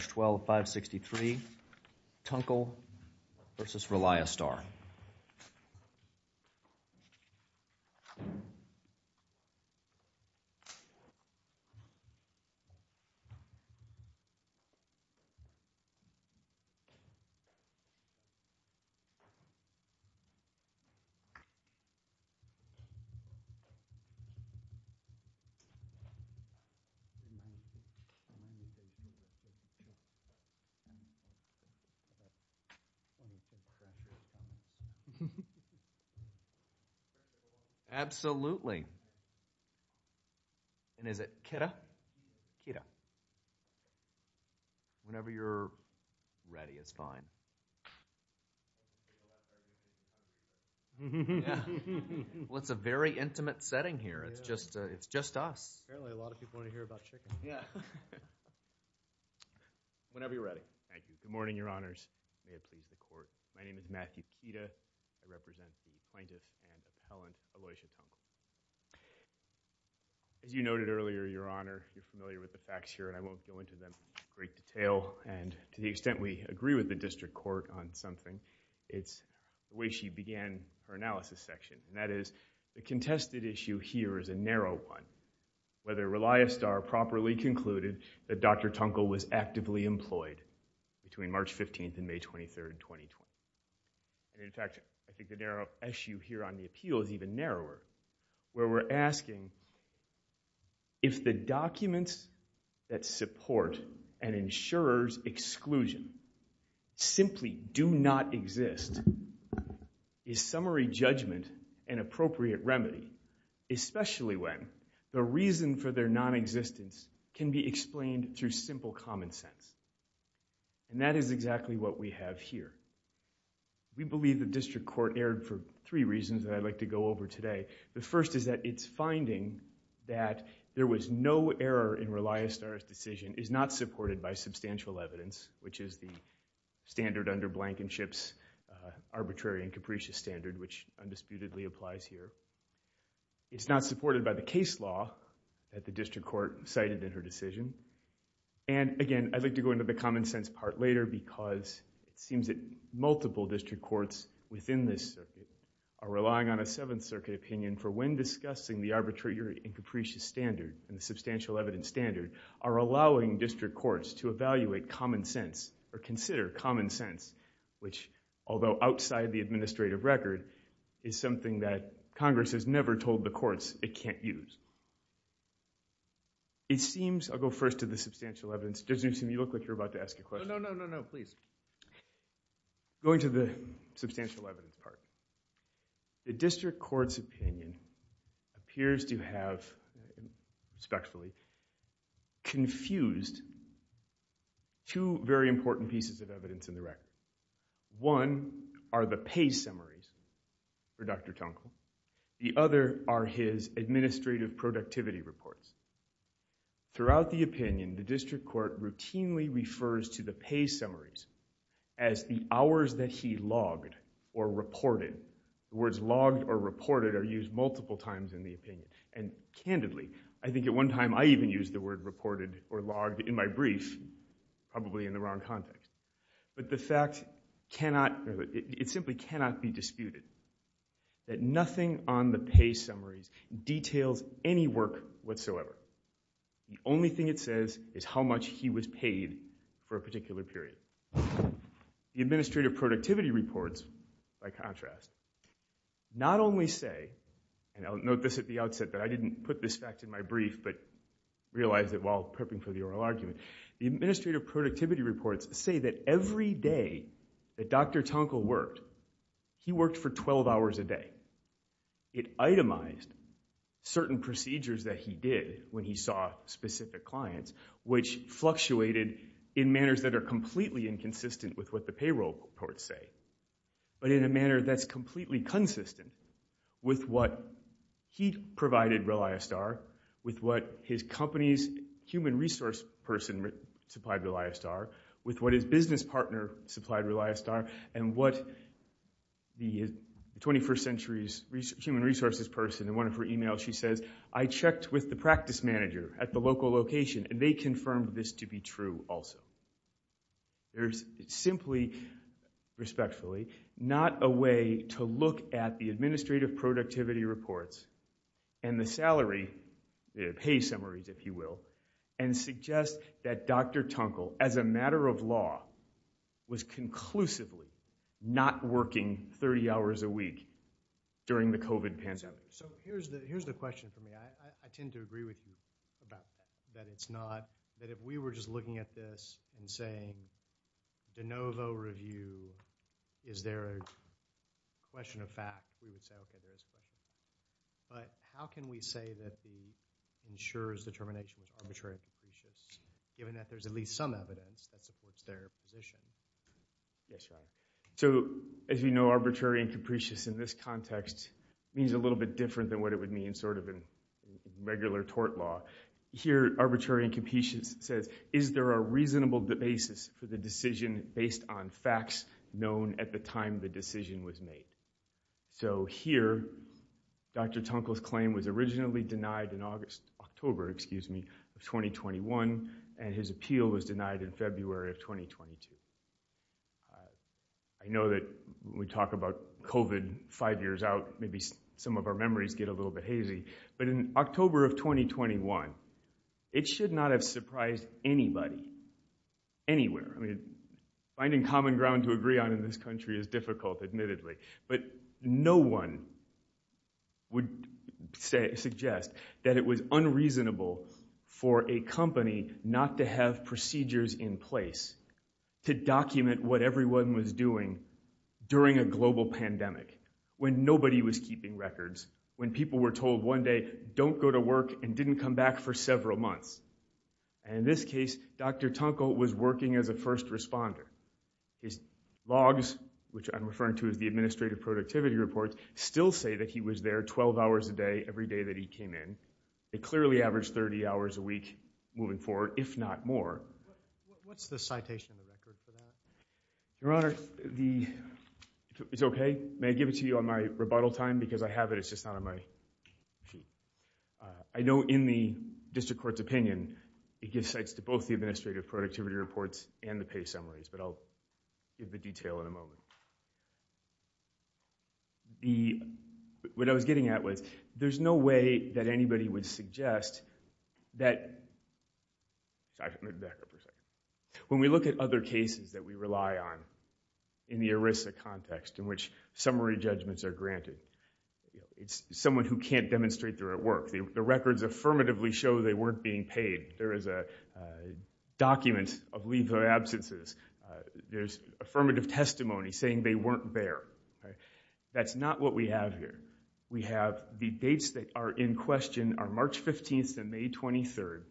H12563 Tunkle v. Reliastar Absolutely. And is it kidda? Kidda. Whenever you're ready, it's fine. Well, it's a very intimate setting here. It's just us. Apparently, a lot of people want to hear about chicken. Yeah. Whenever you're ready. Thank you. Good morning, Your Honors. May it please the Court. My name is Matthew Pita. I represent the plaintiff and appellant Aloysia Tunkle. As you noted earlier, Your Honor, you're familiar with the facts here, and I won't go into them in great detail. And to the extent we agree with the district court on something, it's the way she began her analysis section. And that is, the contested issue here is a narrow one. It's a narrow one. It's a narrow one. It's a narrow one. It's a narrow one. It's a narrow one. It's a narrow one. It's a narrow one. It's a narrow one. It's a narrow one. It's a narrow one. And in fact, I think the narrow issue here on the appeal is even narrower, where we're asking, if the documents that support an insurer's exclusion simply do not exist, is summary the evidence is that the insurer's exclusion from their non-existence can be explained through simple common sense. And that is exactly what we have here. We believe the district court erred for three reasons that I'd like to go over today. The first is that its finding that there was no error in Reliastar's decision is not supported by substantial evidence, which is the standard under Blankenship's arbitrary and capricious standard, which undisputedly applies here. It's not supported by the case law that the district court cited in her decision. And again, I'd like to go into the common sense part later because it seems that multiple district courts within this circuit are relying on a Seventh Circuit opinion for when discussing the arbitrary and capricious standard and the substantial evidence standard are allowing district courts to evaluate common sense or consider common sense, which, although outside the administrative record, is something that Congress has never told the courts it can't use. It seems, I'll go first to the substantial evidence. Judge Newsom, you look like you're about to ask a question. No, no, no, no, no, please. Going to the substantial evidence part, the district court's opinion appears to have, respectfully, confused two very important pieces of evidence in the record. One are the pay summaries for Dr. Tunkel. The other are his administrative productivity reports. Throughout the opinion, the district court routinely refers to the pay summaries as the hours that he logged or reported. The words logged or reported are used multiple times in the opinion, and candidly, I think at one time I even used the word reported or logged in my brief, probably in the wrong context. But the fact cannot, it simply cannot be disputed that nothing on the pay summaries details any work whatsoever. The only thing it says is how much he was paid for a particular period. The administrative productivity reports, by contrast, not only say, and I'll note this at the outset that I didn't put this fact in my brief but realized it while prepping for the oral argument, the administrative productivity reports say that every day that Dr. Tunkel worked, he worked for 12 hours a day. It itemized certain procedures that he did when he saw specific clients, which fluctuated in manners that are completely inconsistent with what the payroll reports say, but in a manner that's completely consistent with what he provided Reliostar, with what his company's human resource person supplied Reliostar, with what his business partner supplied Reliostar, and what the 21st century's human resources person, in one of her emails she says, I checked with the practice manager at the local location and they confirmed this to be true also. There's simply, respectfully, not a way to look at the administrative productivity reports and the salary, the pay summaries if you will, and suggest that Dr. Tunkel, as a matter of law, was conclusively not working 30 hours a week during the COVID pandemic. So here's the question for me. I tend to agree with you about that it's not, that if we were just looking at this and saying the NoVo review, is there a question of fact, but how can we say that he ensures the termination of arbitrary and capricious, given that there's at least some evidence that supports their position? So, as you know, arbitrary and capricious in this context means a little bit different than what it would mean sort of in regular tort law. Here, arbitrary and capricious says, is there a reasonable basis for the decision based on facts known at the time the decision was made? So here, Dr. Tunkel's claim was originally denied in August, October, excuse me, of 2021, and his appeal was denied in February of 2022. I know that when we talk about COVID five years out, maybe some of our memories get a little bit hazy, but in October of 2021, it should not have surprised anybody, anywhere. I mean, finding common ground to agree on in this country is difficult, admittedly, but no one would say, suggest that it was unreasonable for a company not to have procedures in place to document what everyone was doing during a global pandemic, when nobody was keeping records, when people were told one day, don't go to work and didn't come back for several months. And in this case, Dr. Tunkel was working as a first responder. His logs, which I'm referring to as the administrative productivity reports, still say that he was there 12 hours a day, every day that he came in. It clearly averaged 30 hours a week moving forward, if not more. What's the citation record for that? Your Honor, it's okay. May I give it to you on my rebuttal time? Because I have it, it's just not on my sheet. I know in the district court's opinion, it gives sites to both the administrative productivity reports and the pay summaries, but I'll give the detail in a moment. What I was getting at was, there's no way that anybody would suggest that, when we look at other cases that we rely on in the ERISA context, in which summary judgments are granted, it's someone who can't demonstrate they're at work. The records affirmatively show they weren't being paid. There is a document of leave of absences. There's affirmative testimony saying they weren't there. That's not what we have here. We have debates that are in question are March 15th to May 23rd,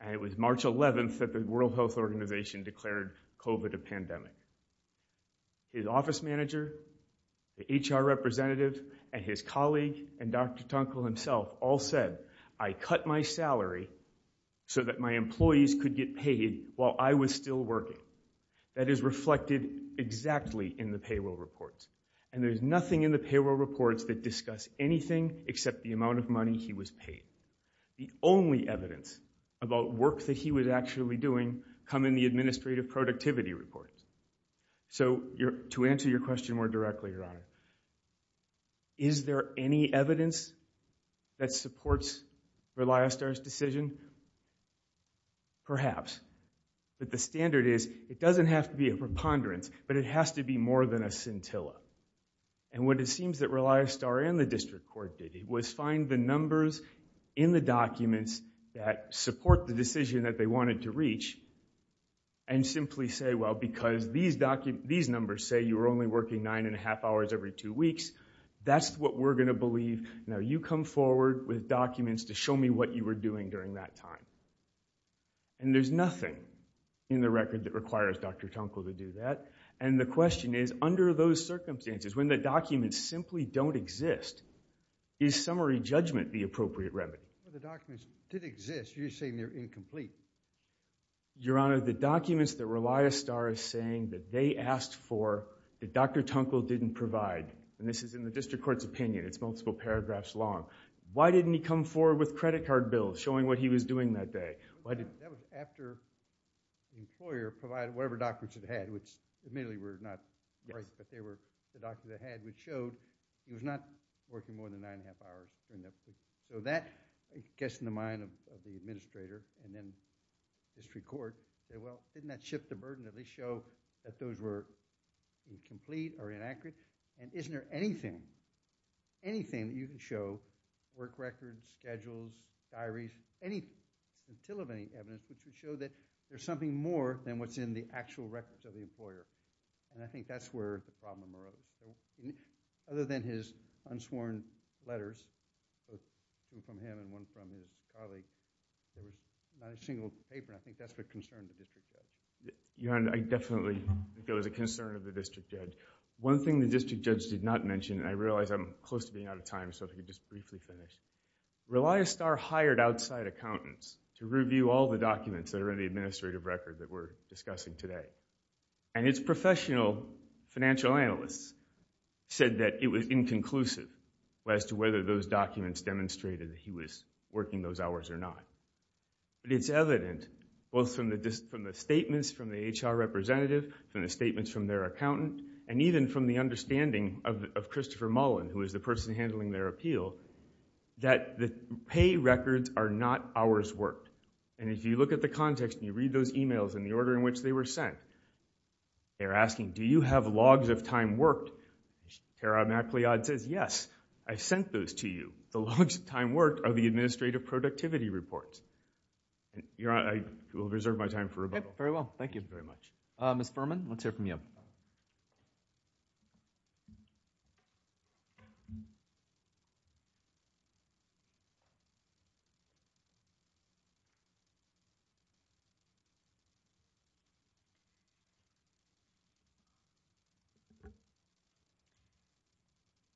and it was March 11th that the World Health Organization declared COVID a pandemic. His office manager, the HR representative, and his colleague, and Dr. Tunkel himself, all said, I cut my salary so that my employees could get paid while I was still working. That is reflected exactly in the payroll reports, and there's nothing in the payroll reports that discuss anything except the amount of money he was paid. The only evidence about work that he was actually doing come in the administrative productivity reports. To answer your question more directly, Your Honor, is there any evidence that supports Reliostar's decision? Perhaps. But the standard is, it doesn't have to be a preponderance, but it has to be more than a scintilla. And what it seems that Reliostar and the district court did was find the numbers in the documents that support the decision that they wanted to reach and simply say, well, because these numbers say you were only working nine and a half hours every two weeks, that's what we're going to believe. Now you come forward with documents to show me what you were doing during that time. And there's nothing in the record that requires Dr. Tunkel to do that. And the question is, under those circumstances, when the documents simply don't exist, is summary judgment the appropriate remedy? The documents did exist. You're saying they're incomplete. Your Honor, the documents that Reliostar is saying that they asked for that Dr. Tunkel didn't provide, and this is in the district court's opinion, it's multiple paragraphs long. Why didn't he come forward with credit card bills showing what he was doing that day? That was after the employer provided whatever documents it had, which admittedly were not right, but they were the documents it had, which showed he was not working more than nine and a half hours. So that gets in the mind of the administrator, and then the district court said, well, didn't that shift the burden that they show that those were incomplete or inaccurate? And isn't there anything, anything that you can show, work records, schedules, diaries, anything, until of any evidence, that can show that there's something more than what's in the actual records of the employer? And I think that's where the problem arose. Other than his unsworn letters, two from him and one from his colleague, not a single paper, and I think that's the concern of the district judge. Your Honor, I definitely think it was a concern of the district judge. One thing the district judge did not mention, and I realize I'm close to being out of time, so if we could just briefly finish. Relia Star hired outside accountants to review all the documents that are in the administrative record that we're discussing today, and its professional financial analysts said that it was inconclusive as to whether those documents demonstrated that he was working those hours or not. But it's evident, both from the statements from the HR representative, from the statements from their accountant, and even from the understanding of Christopher Mullen, who is the person handling their appeal, that the pay records are not hours worked. And if you look at the context and you read those emails and the order in which they were sent, they're asking, do you have logs of time worked? Kara MacLeod says, yes, I sent those to you. The logs of time worked are the administrative productivity reports. Your Honor, I will reserve my time for rebuttal. Very well. Thank you very much. Ms. Furman, let's hear from you.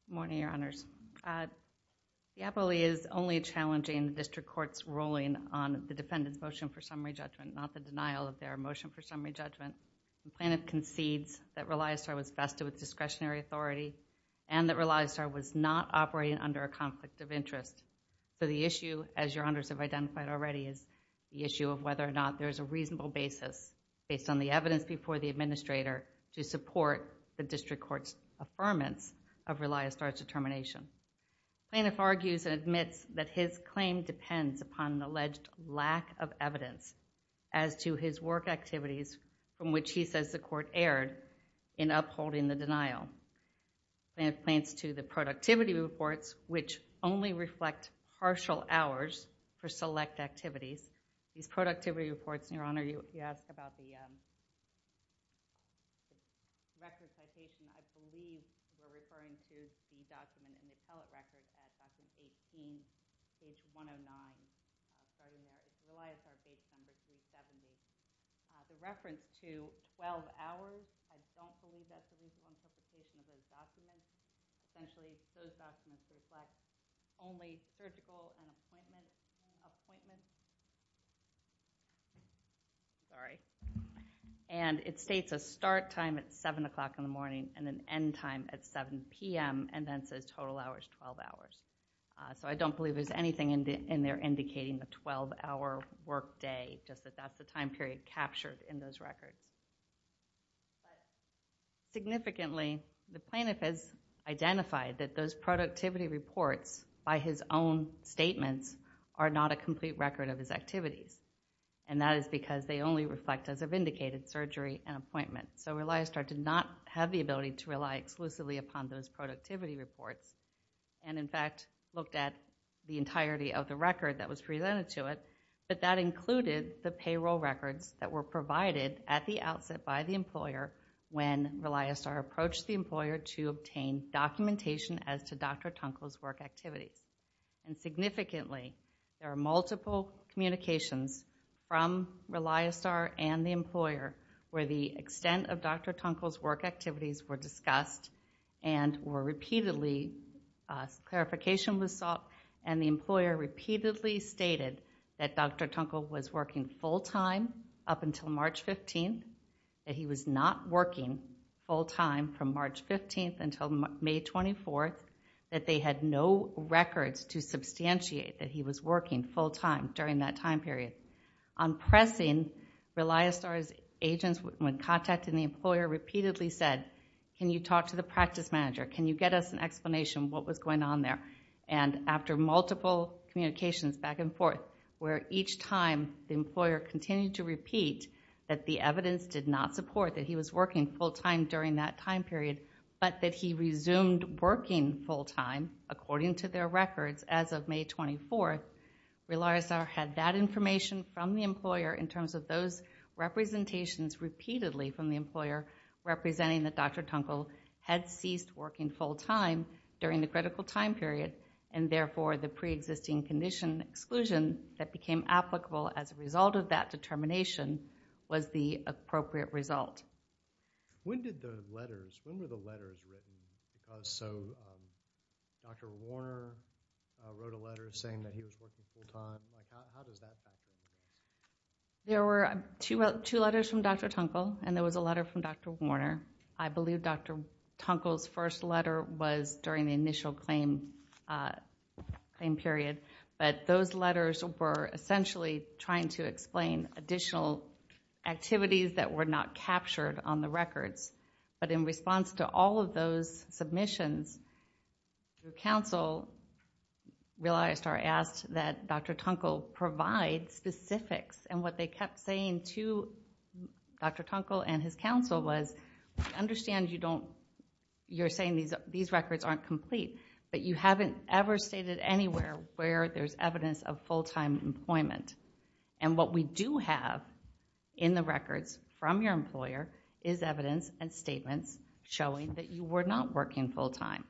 Good morning, Your Honors. The APOLE is only challenging the district court's ruling on the defendant's motion for summary judgment, not the denial of their motion for summary judgment. The plaintiff concedes that Relia Star was vested with discretionary authority and that Relia Star was not operating under a conflict of interest. So the issue, as Your Honors have identified already, is the issue of whether or not there is a reasonable basis based on the evidence before the administrator to support the district court's affirmance of Relia Star's determination. The plaintiff argues and admits that his claim depends upon an alleged lack of evidence as to his work activities from which he says the court erred in upholding the denial. The plaintiff points to the productivity reports, which only reflect partial hours for select activities. These productivity reports, Your Honor, you asked about the record citation. I believe you're referring to the document, the appellate record citation, page 109. Relia Star's citation is page 70. The reference to 12 hours, I don't believe that's the reason for citation of those documents. Essentially, those documents reflect only surgical and appointment and it states a start time at 7 o'clock in the morning and an end time at 7 p.m. and then says total hours, 12 hours. So I don't believe there's anything in there indicating the 12-hour workday, just that that's the time period captured in those records. Significantly, the plaintiff has identified that those productivity reports by his own statements are not a complete record of his activities and that is because they only reflect as a vindicated surgery and appointment. So Relia Star did not have the ability to rely exclusively upon those productivity reports and in fact looked at the entirety of the record that was presented to it, but that included the payroll records that were provided at the outset by the employer when Relia Star approached the documentation as to Dr. Tunkel's work activities. And significantly, there are multiple communications from Relia Star and the employer where the extent of Dr. Tunkel's work activities were discussed and were repeatedly, clarification was sought and the employer repeatedly stated that Dr. Tunkel was working full time up until March 15th, that he was not working full time from March 15th until May 24th, that they had no records to substantiate that he was working full time during that time period. On pressing, Relia Star's agents, when contacting the employer, repeatedly said, can you talk to the practice manager? Can you get us an explanation of what was going on there? And after multiple communications back and forth, where each time the employer continued to repeat that the evidence did not support that he was working full time during that time period, but that he resumed working full time according to their records as of May 24th, Relia Star had that information from the employer in terms of those representations repeatedly from the employer representing that Dr. Tunkel had ceased working full time during the critical time period and therefore the pre-existing condition exclusion that became applicable as a result of that determination was the appropriate result. When did the letters, when were the letters written? So Dr. Warner wrote a letter saying that he was working full time, there were two letters from Dr. Tunkel and there was a letter from Dr. Warner. I believe Dr. Tunkel's first letter was during the initial claim period, but those letters were essentially trying to explain additional activities that were not captured on the records, but in response to all of those submissions, the council, Relia Star asked that Dr. Tunkel provide specifics and what they kept saying to Dr. Tunkel and his council was understand you don't, you're saying these records aren't complete, but you haven't ever stated anywhere where there's evidence of full time employment and what we do have in the records from your employer is evidence and statements showing that you were not working full time.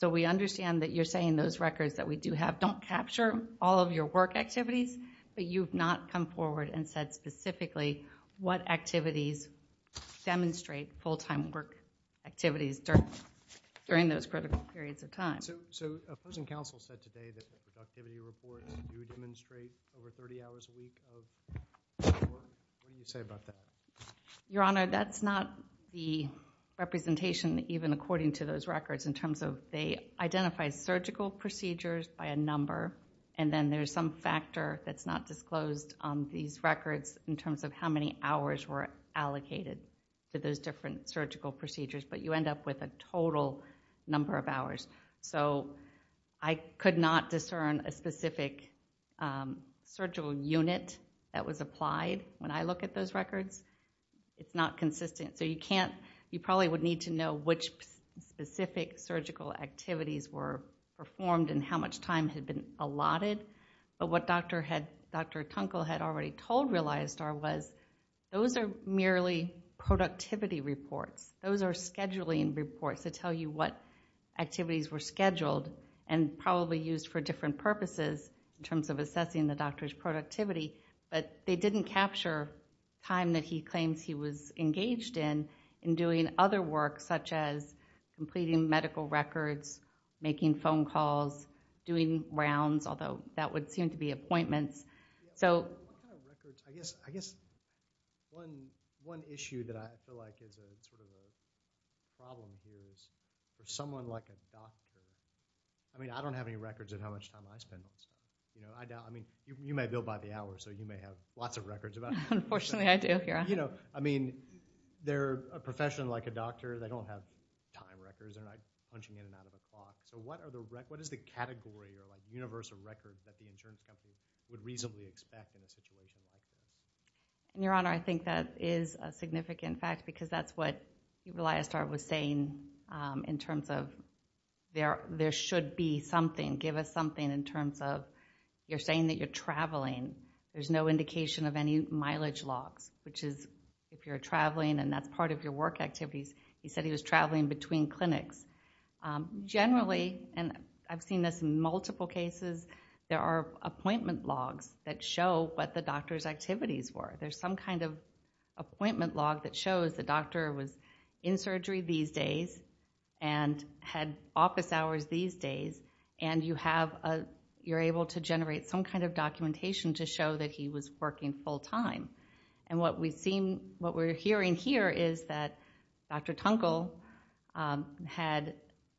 So we understand that you're saying those records that we do have don't capture all of your work activities, but you've not come forward and said specifically what activities demonstrate full time work activities during those critical periods of time. Your Honor, that's not the representation even according to those records in terms of they identify surgical procedures by a number and then there's some factor that's not disclosed on these records in terms of how many hours were allocated to those different surgical procedures, but you end up with a total number of hours. So I could not discern a specific surgical unit that was applied when I look at those records. It's not consistent. So you can't, you probably would need to know which specific surgical activities were performed and how much time had been allotted. But what Dr. Tunkel had already told Relia Star was those are merely productivity reports. Those are scheduling reports that tell you what activities were scheduled and probably used for different purposes in terms of assessing the doctor's productivity, but they didn't capture time that he claims he was engaged in in doing other work such as completing medical records, making phone calls, doing rounds, although that would The issue that I feel like is a problem is if someone like a doctor I mean I don't have any records of how much time I spend. I mean you may build by the hour so you may have lots of records. Unfortunately I do. I mean they're a professional like a doctor. They don't have time records. They're not punching in and out of the clock. So what is the category or universe of records that the insurance company would reasonably expect in a situation like this? Your Honor, I think that is a significant fact because that's what Relia Star was saying in terms of there should be something, give us something in terms of you're saying that you're traveling. There's no indication of any mileage logs, which is if you're traveling and that's part of your work activities. He said he was traveling between clinics. Generally, and I've seen this in multiple cases, there are appointment logs that show what the doctor's activities were. There's some kind of appointment log that shows the doctor was in surgery these days and had office hours these days and you're able to generate some kind of documentation to show that he was working full time. And what we're hearing here is that Dr. Tunkel had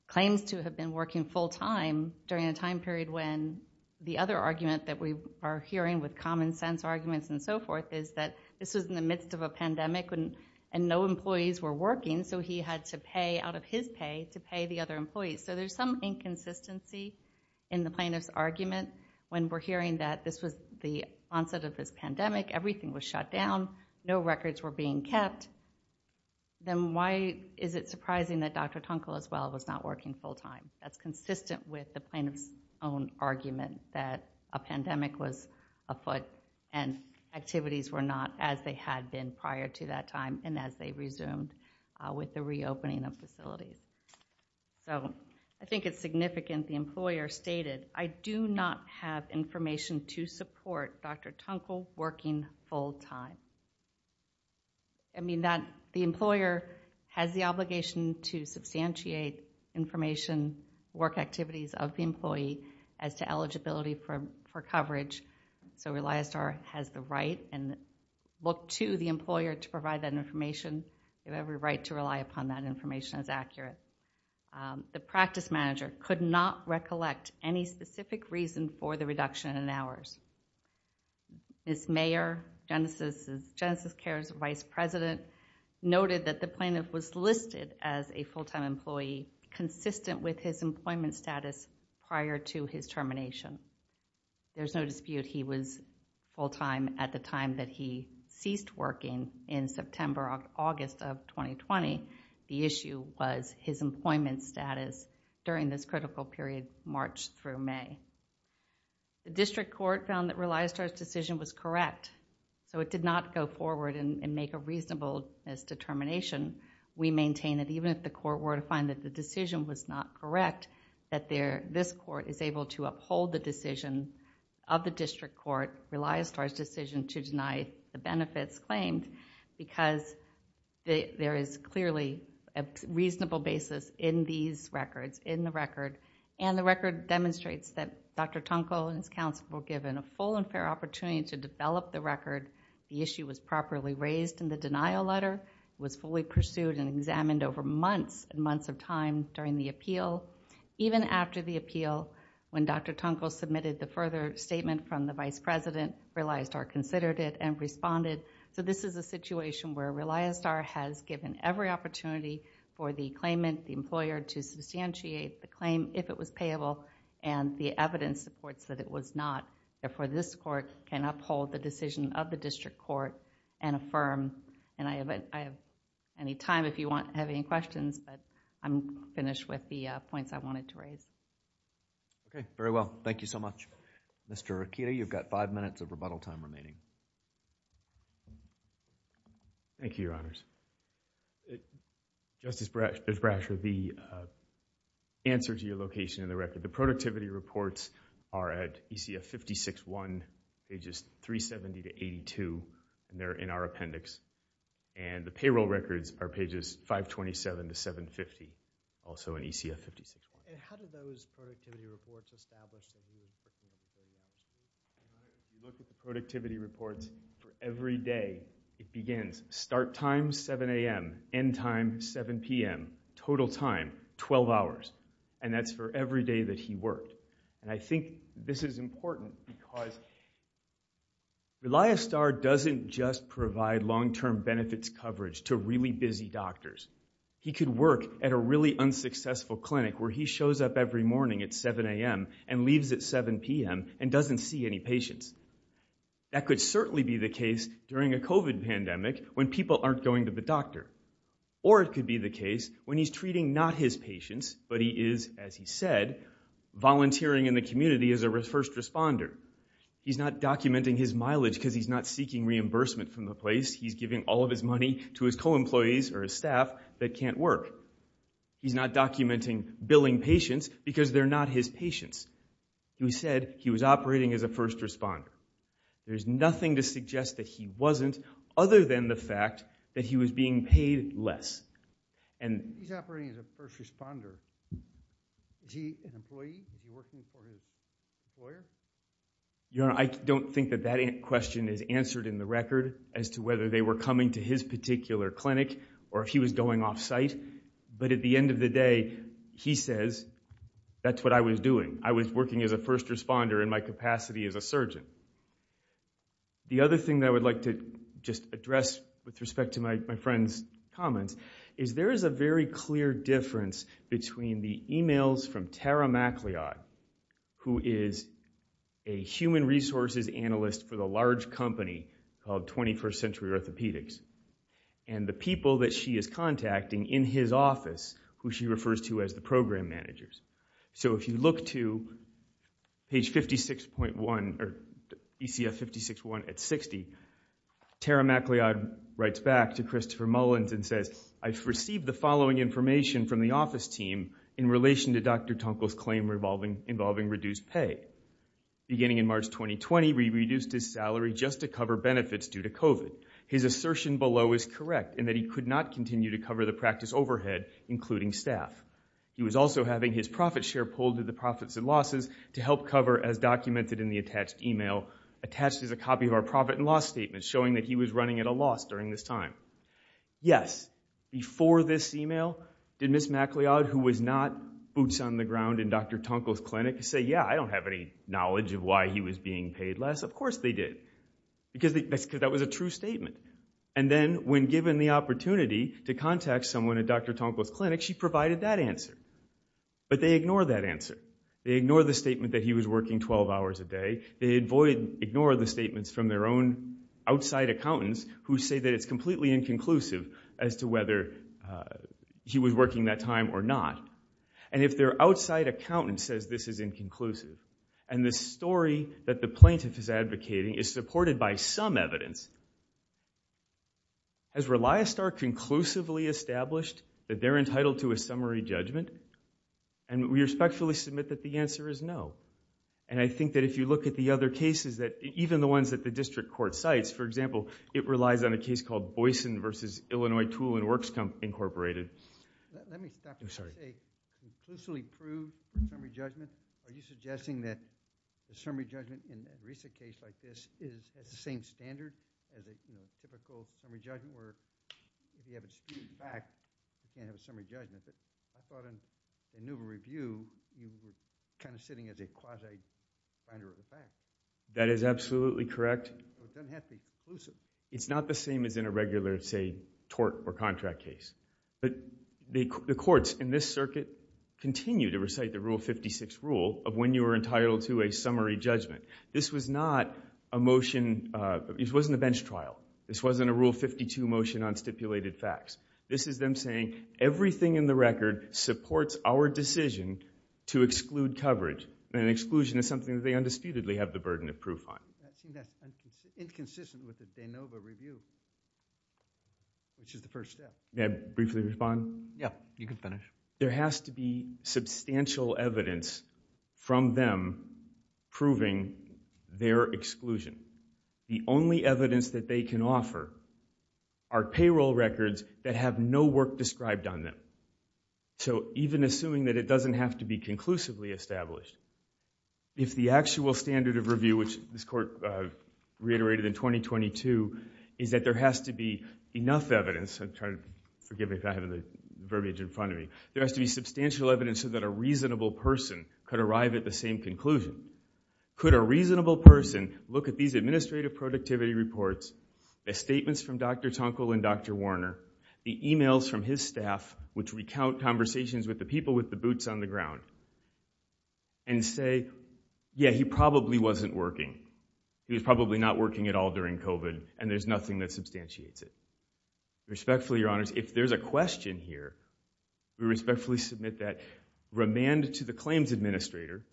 claims to have been working full time during a time period when the other argument that we are hearing with common sense arguments and so forth is that this was in the midst of a pandemic and no employees were working so he had to pay out of his pay to pay the other employees. So there's some inconsistency in the plaintiff's argument when we're hearing that this was the onset of this pandemic, everything was shut down, no records were being kept, then why is it surprising that Dr. Tunkel as well was not working full time? That's consistent with the plaintiff's own argument that a pandemic was afoot and activities were not as they had been prior to that time and as they resumed with the reopening of facilities. So I think it's significant the employer stated, I do not have information to support Dr. Tunkel working full time. I mean that the employer has the obligation to substantiate information, work activities of the employee as to eligibility for coverage. So ReliASTAR has the right and look to the employer to provide that information. They have every right to rely upon that information as accurate. The practice manager could not recollect any specific reason for the reduction in hours. Ms. Mayer, Genesis Care's Vice President noted that the plaintiff was listed as a full time employee consistent with his employment status prior to his termination. There's no dispute he was full time at the time that he ceased working in September or August of 2020. The issue was his employment status during this critical period March through May. The district court found that ReliASTAR's decision was correct. So it did not go forward and make a reasonable determination. We maintain that even if the court were to find that the decision was not correct that this court is able to uphold the decision of the district court, ReliASTAR's decision to deny the benefits claimed because there is clearly a reasonable basis in these records, in the record, and the record demonstrates that Dr. Tunkel and his counsel were given a full and fair opportunity to develop the record. The issue was properly raised in the denial letter. It was fully pursued and examined over months and months of time during the appeal. Even after the appeal, when Dr. Tunkel submitted the further statement from the Vice President, ReliASTAR considered it and responded. So this is a situation where ReliASTAR has given every opportunity for the claimant, the employer, to substantiate the claim if it was payable and the evidence supports that it was not. Therefore, this court can uphold the decision of the district court and affirm. I have any time if you have any questions, but I'm finished with the points I wanted to raise. Okay. Very well. Thank you so much. Mr. Akita, you've got five minutes of rebuttal time remaining. Thank you, Your Honors. Justice Brasher, the answer to your location in the record, the productivity reports are at ECF 56-1, pages 370-82, and they're in our appendix. And the payroll records are pages 527-750, also in ECF 56-1. And how do those productivity reports establish the view of the claimant? We look at the productivity reports for every day. It begins start time, 7 a.m., end time, 7 p.m., total time, 12 hours. And that's for every day that he worked. And I think this is important because ReliASTAR doesn't just provide long-term benefits coverage to really busy doctors. He could work at a really unsuccessful clinic where he shows up every morning at 7 a.m. and leaves at 7 p.m. and doesn't see any patients. That could certainly be the case during a COVID pandemic when people aren't going to the doctor. Or it could be the case when he's treating not his patients, but he is, as he said, volunteering in the community as a first responder. He's not documenting his mileage because he's not seeking reimbursement from the place. He's giving all of his money to his co-employees or his staff that can't work. He's not documenting billing patients because they're not his patients. He said he was operating as a first responder. There's nothing to suggest that he wasn't other than the fact that he was being paid less. He's operating as a first responder. Is he an employee? I don't think that that question is answered in the record as to whether they were coming to his particular clinic or if he was going off-site. But at the end of the day, he says, that's what I was doing. I was working as a first responder in my capacity as a surgeon. The other thing that I would like to just address with respect to my friend's comments is there is a very clear difference between the emails from Tara MacLeod, who is a human resources analyst for the large company called 21st Century Orthopedics. And the people that she is contacting in his office, who she refers to as the program managers. So if you look to page 56.1 or ECF 56.1 at 60, Tara MacLeod writes back to Christopher Mullins and says, I've received the following information from the office team in relation to Dr. Tunkel's claim involving reduced pay. Beginning in March 2020, we reduced his salary just to cover benefits due to COVID. His assertion below is correct in that he could not continue to cover the practice overhead, including staff. He was also having his profit share pulled to the profits and losses to help cover, as documented in the attached email, attached as a copy of our profit and loss statement showing that he was running at a loss during this time. Yes, before this email, did Ms. MacLeod, who was not boots on the ground in Dr. Tunkel's clinic, say, yeah, I don't have any knowledge of why he was being paid less? Of course they did. Because that was a true statement. And then when given the opportunity to contact someone at Dr. Tunkel's clinic, she provided that answer. But they ignore that answer. They ignore the statement that he was working 12 hours a day. They ignore the statements from their own outside accountants, who say that it's completely inconclusive as to whether he was working that time or not. And if their outside accountant says this is inconclusive, and the story that the plaintiff is advocating is supported by some evidence, has Reliostar conclusively established that they're entitled to a summary judgment? And we respectfully submit that the answer is no. And I think that if you look at the other cases, even the ones that the district court cites, for example, it relies on a case called Boyson v. Illinois Tool and Works Incorporated. Let me stop and say, conclusively proved summary judgment? Are you suggesting that the summary judgment in a recent case like this is the same standard as a typical summary judgment? Or if you have a student back, you can't have a summary judgment. But I thought in the new review, you were kind of sitting as a quasi-finder of the facts. That is absolutely correct. It doesn't have to be conclusive. It's not the same as in a regular, say, tort or contract case. But the courts in this circuit continue to recite the Rule 56 rule of when you are entitled to a summary judgment. This was not a motion, this wasn't a bench trial. This wasn't a Rule 52 motion on stipulated facts. This is them saying, everything in the record supports our decision to exclude coverage. And exclusion is something that they undisputedly have the burden of proof on. I'm inconsistent with the de novo review, which is the first step. May I briefly respond? Yeah, you can finish. There has to be substantial evidence from them proving their exclusion. The only evidence that they can offer are payroll records that have no work described on them. So even assuming that it doesn't have to be conclusively established, if the actual standard of review, which this court reiterated in 2022, is that there has to be enough evidence. Forgive me if I have the verbiage in front of me. There has to be substantial evidence so that a reasonable person could arrive at the same conclusion. Could a reasonable person look at these administrative productivity reports, the statements from Dr. Tunkel and Dr. Warner, the emails from his staff which recount conversations with the people with the boots on the ground, and say, yeah, he probably wasn't working. He was probably not working at all during COVID, and there's nothing that substantiates it. Respectfully, Your Honors, if there's a question here, we respectfully submit that remand to the claims administrator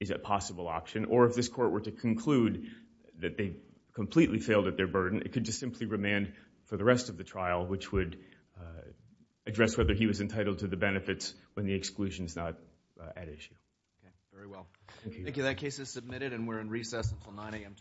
is a possible option, or if this court were to conclude that they completely failed at their burden, it could just simply remand for the rest of the trial, which would address whether he was entitled to the benefits when the exclusion is not at issue. That case is submitted, and we're in recess until 9 a.m. tomorrow morning.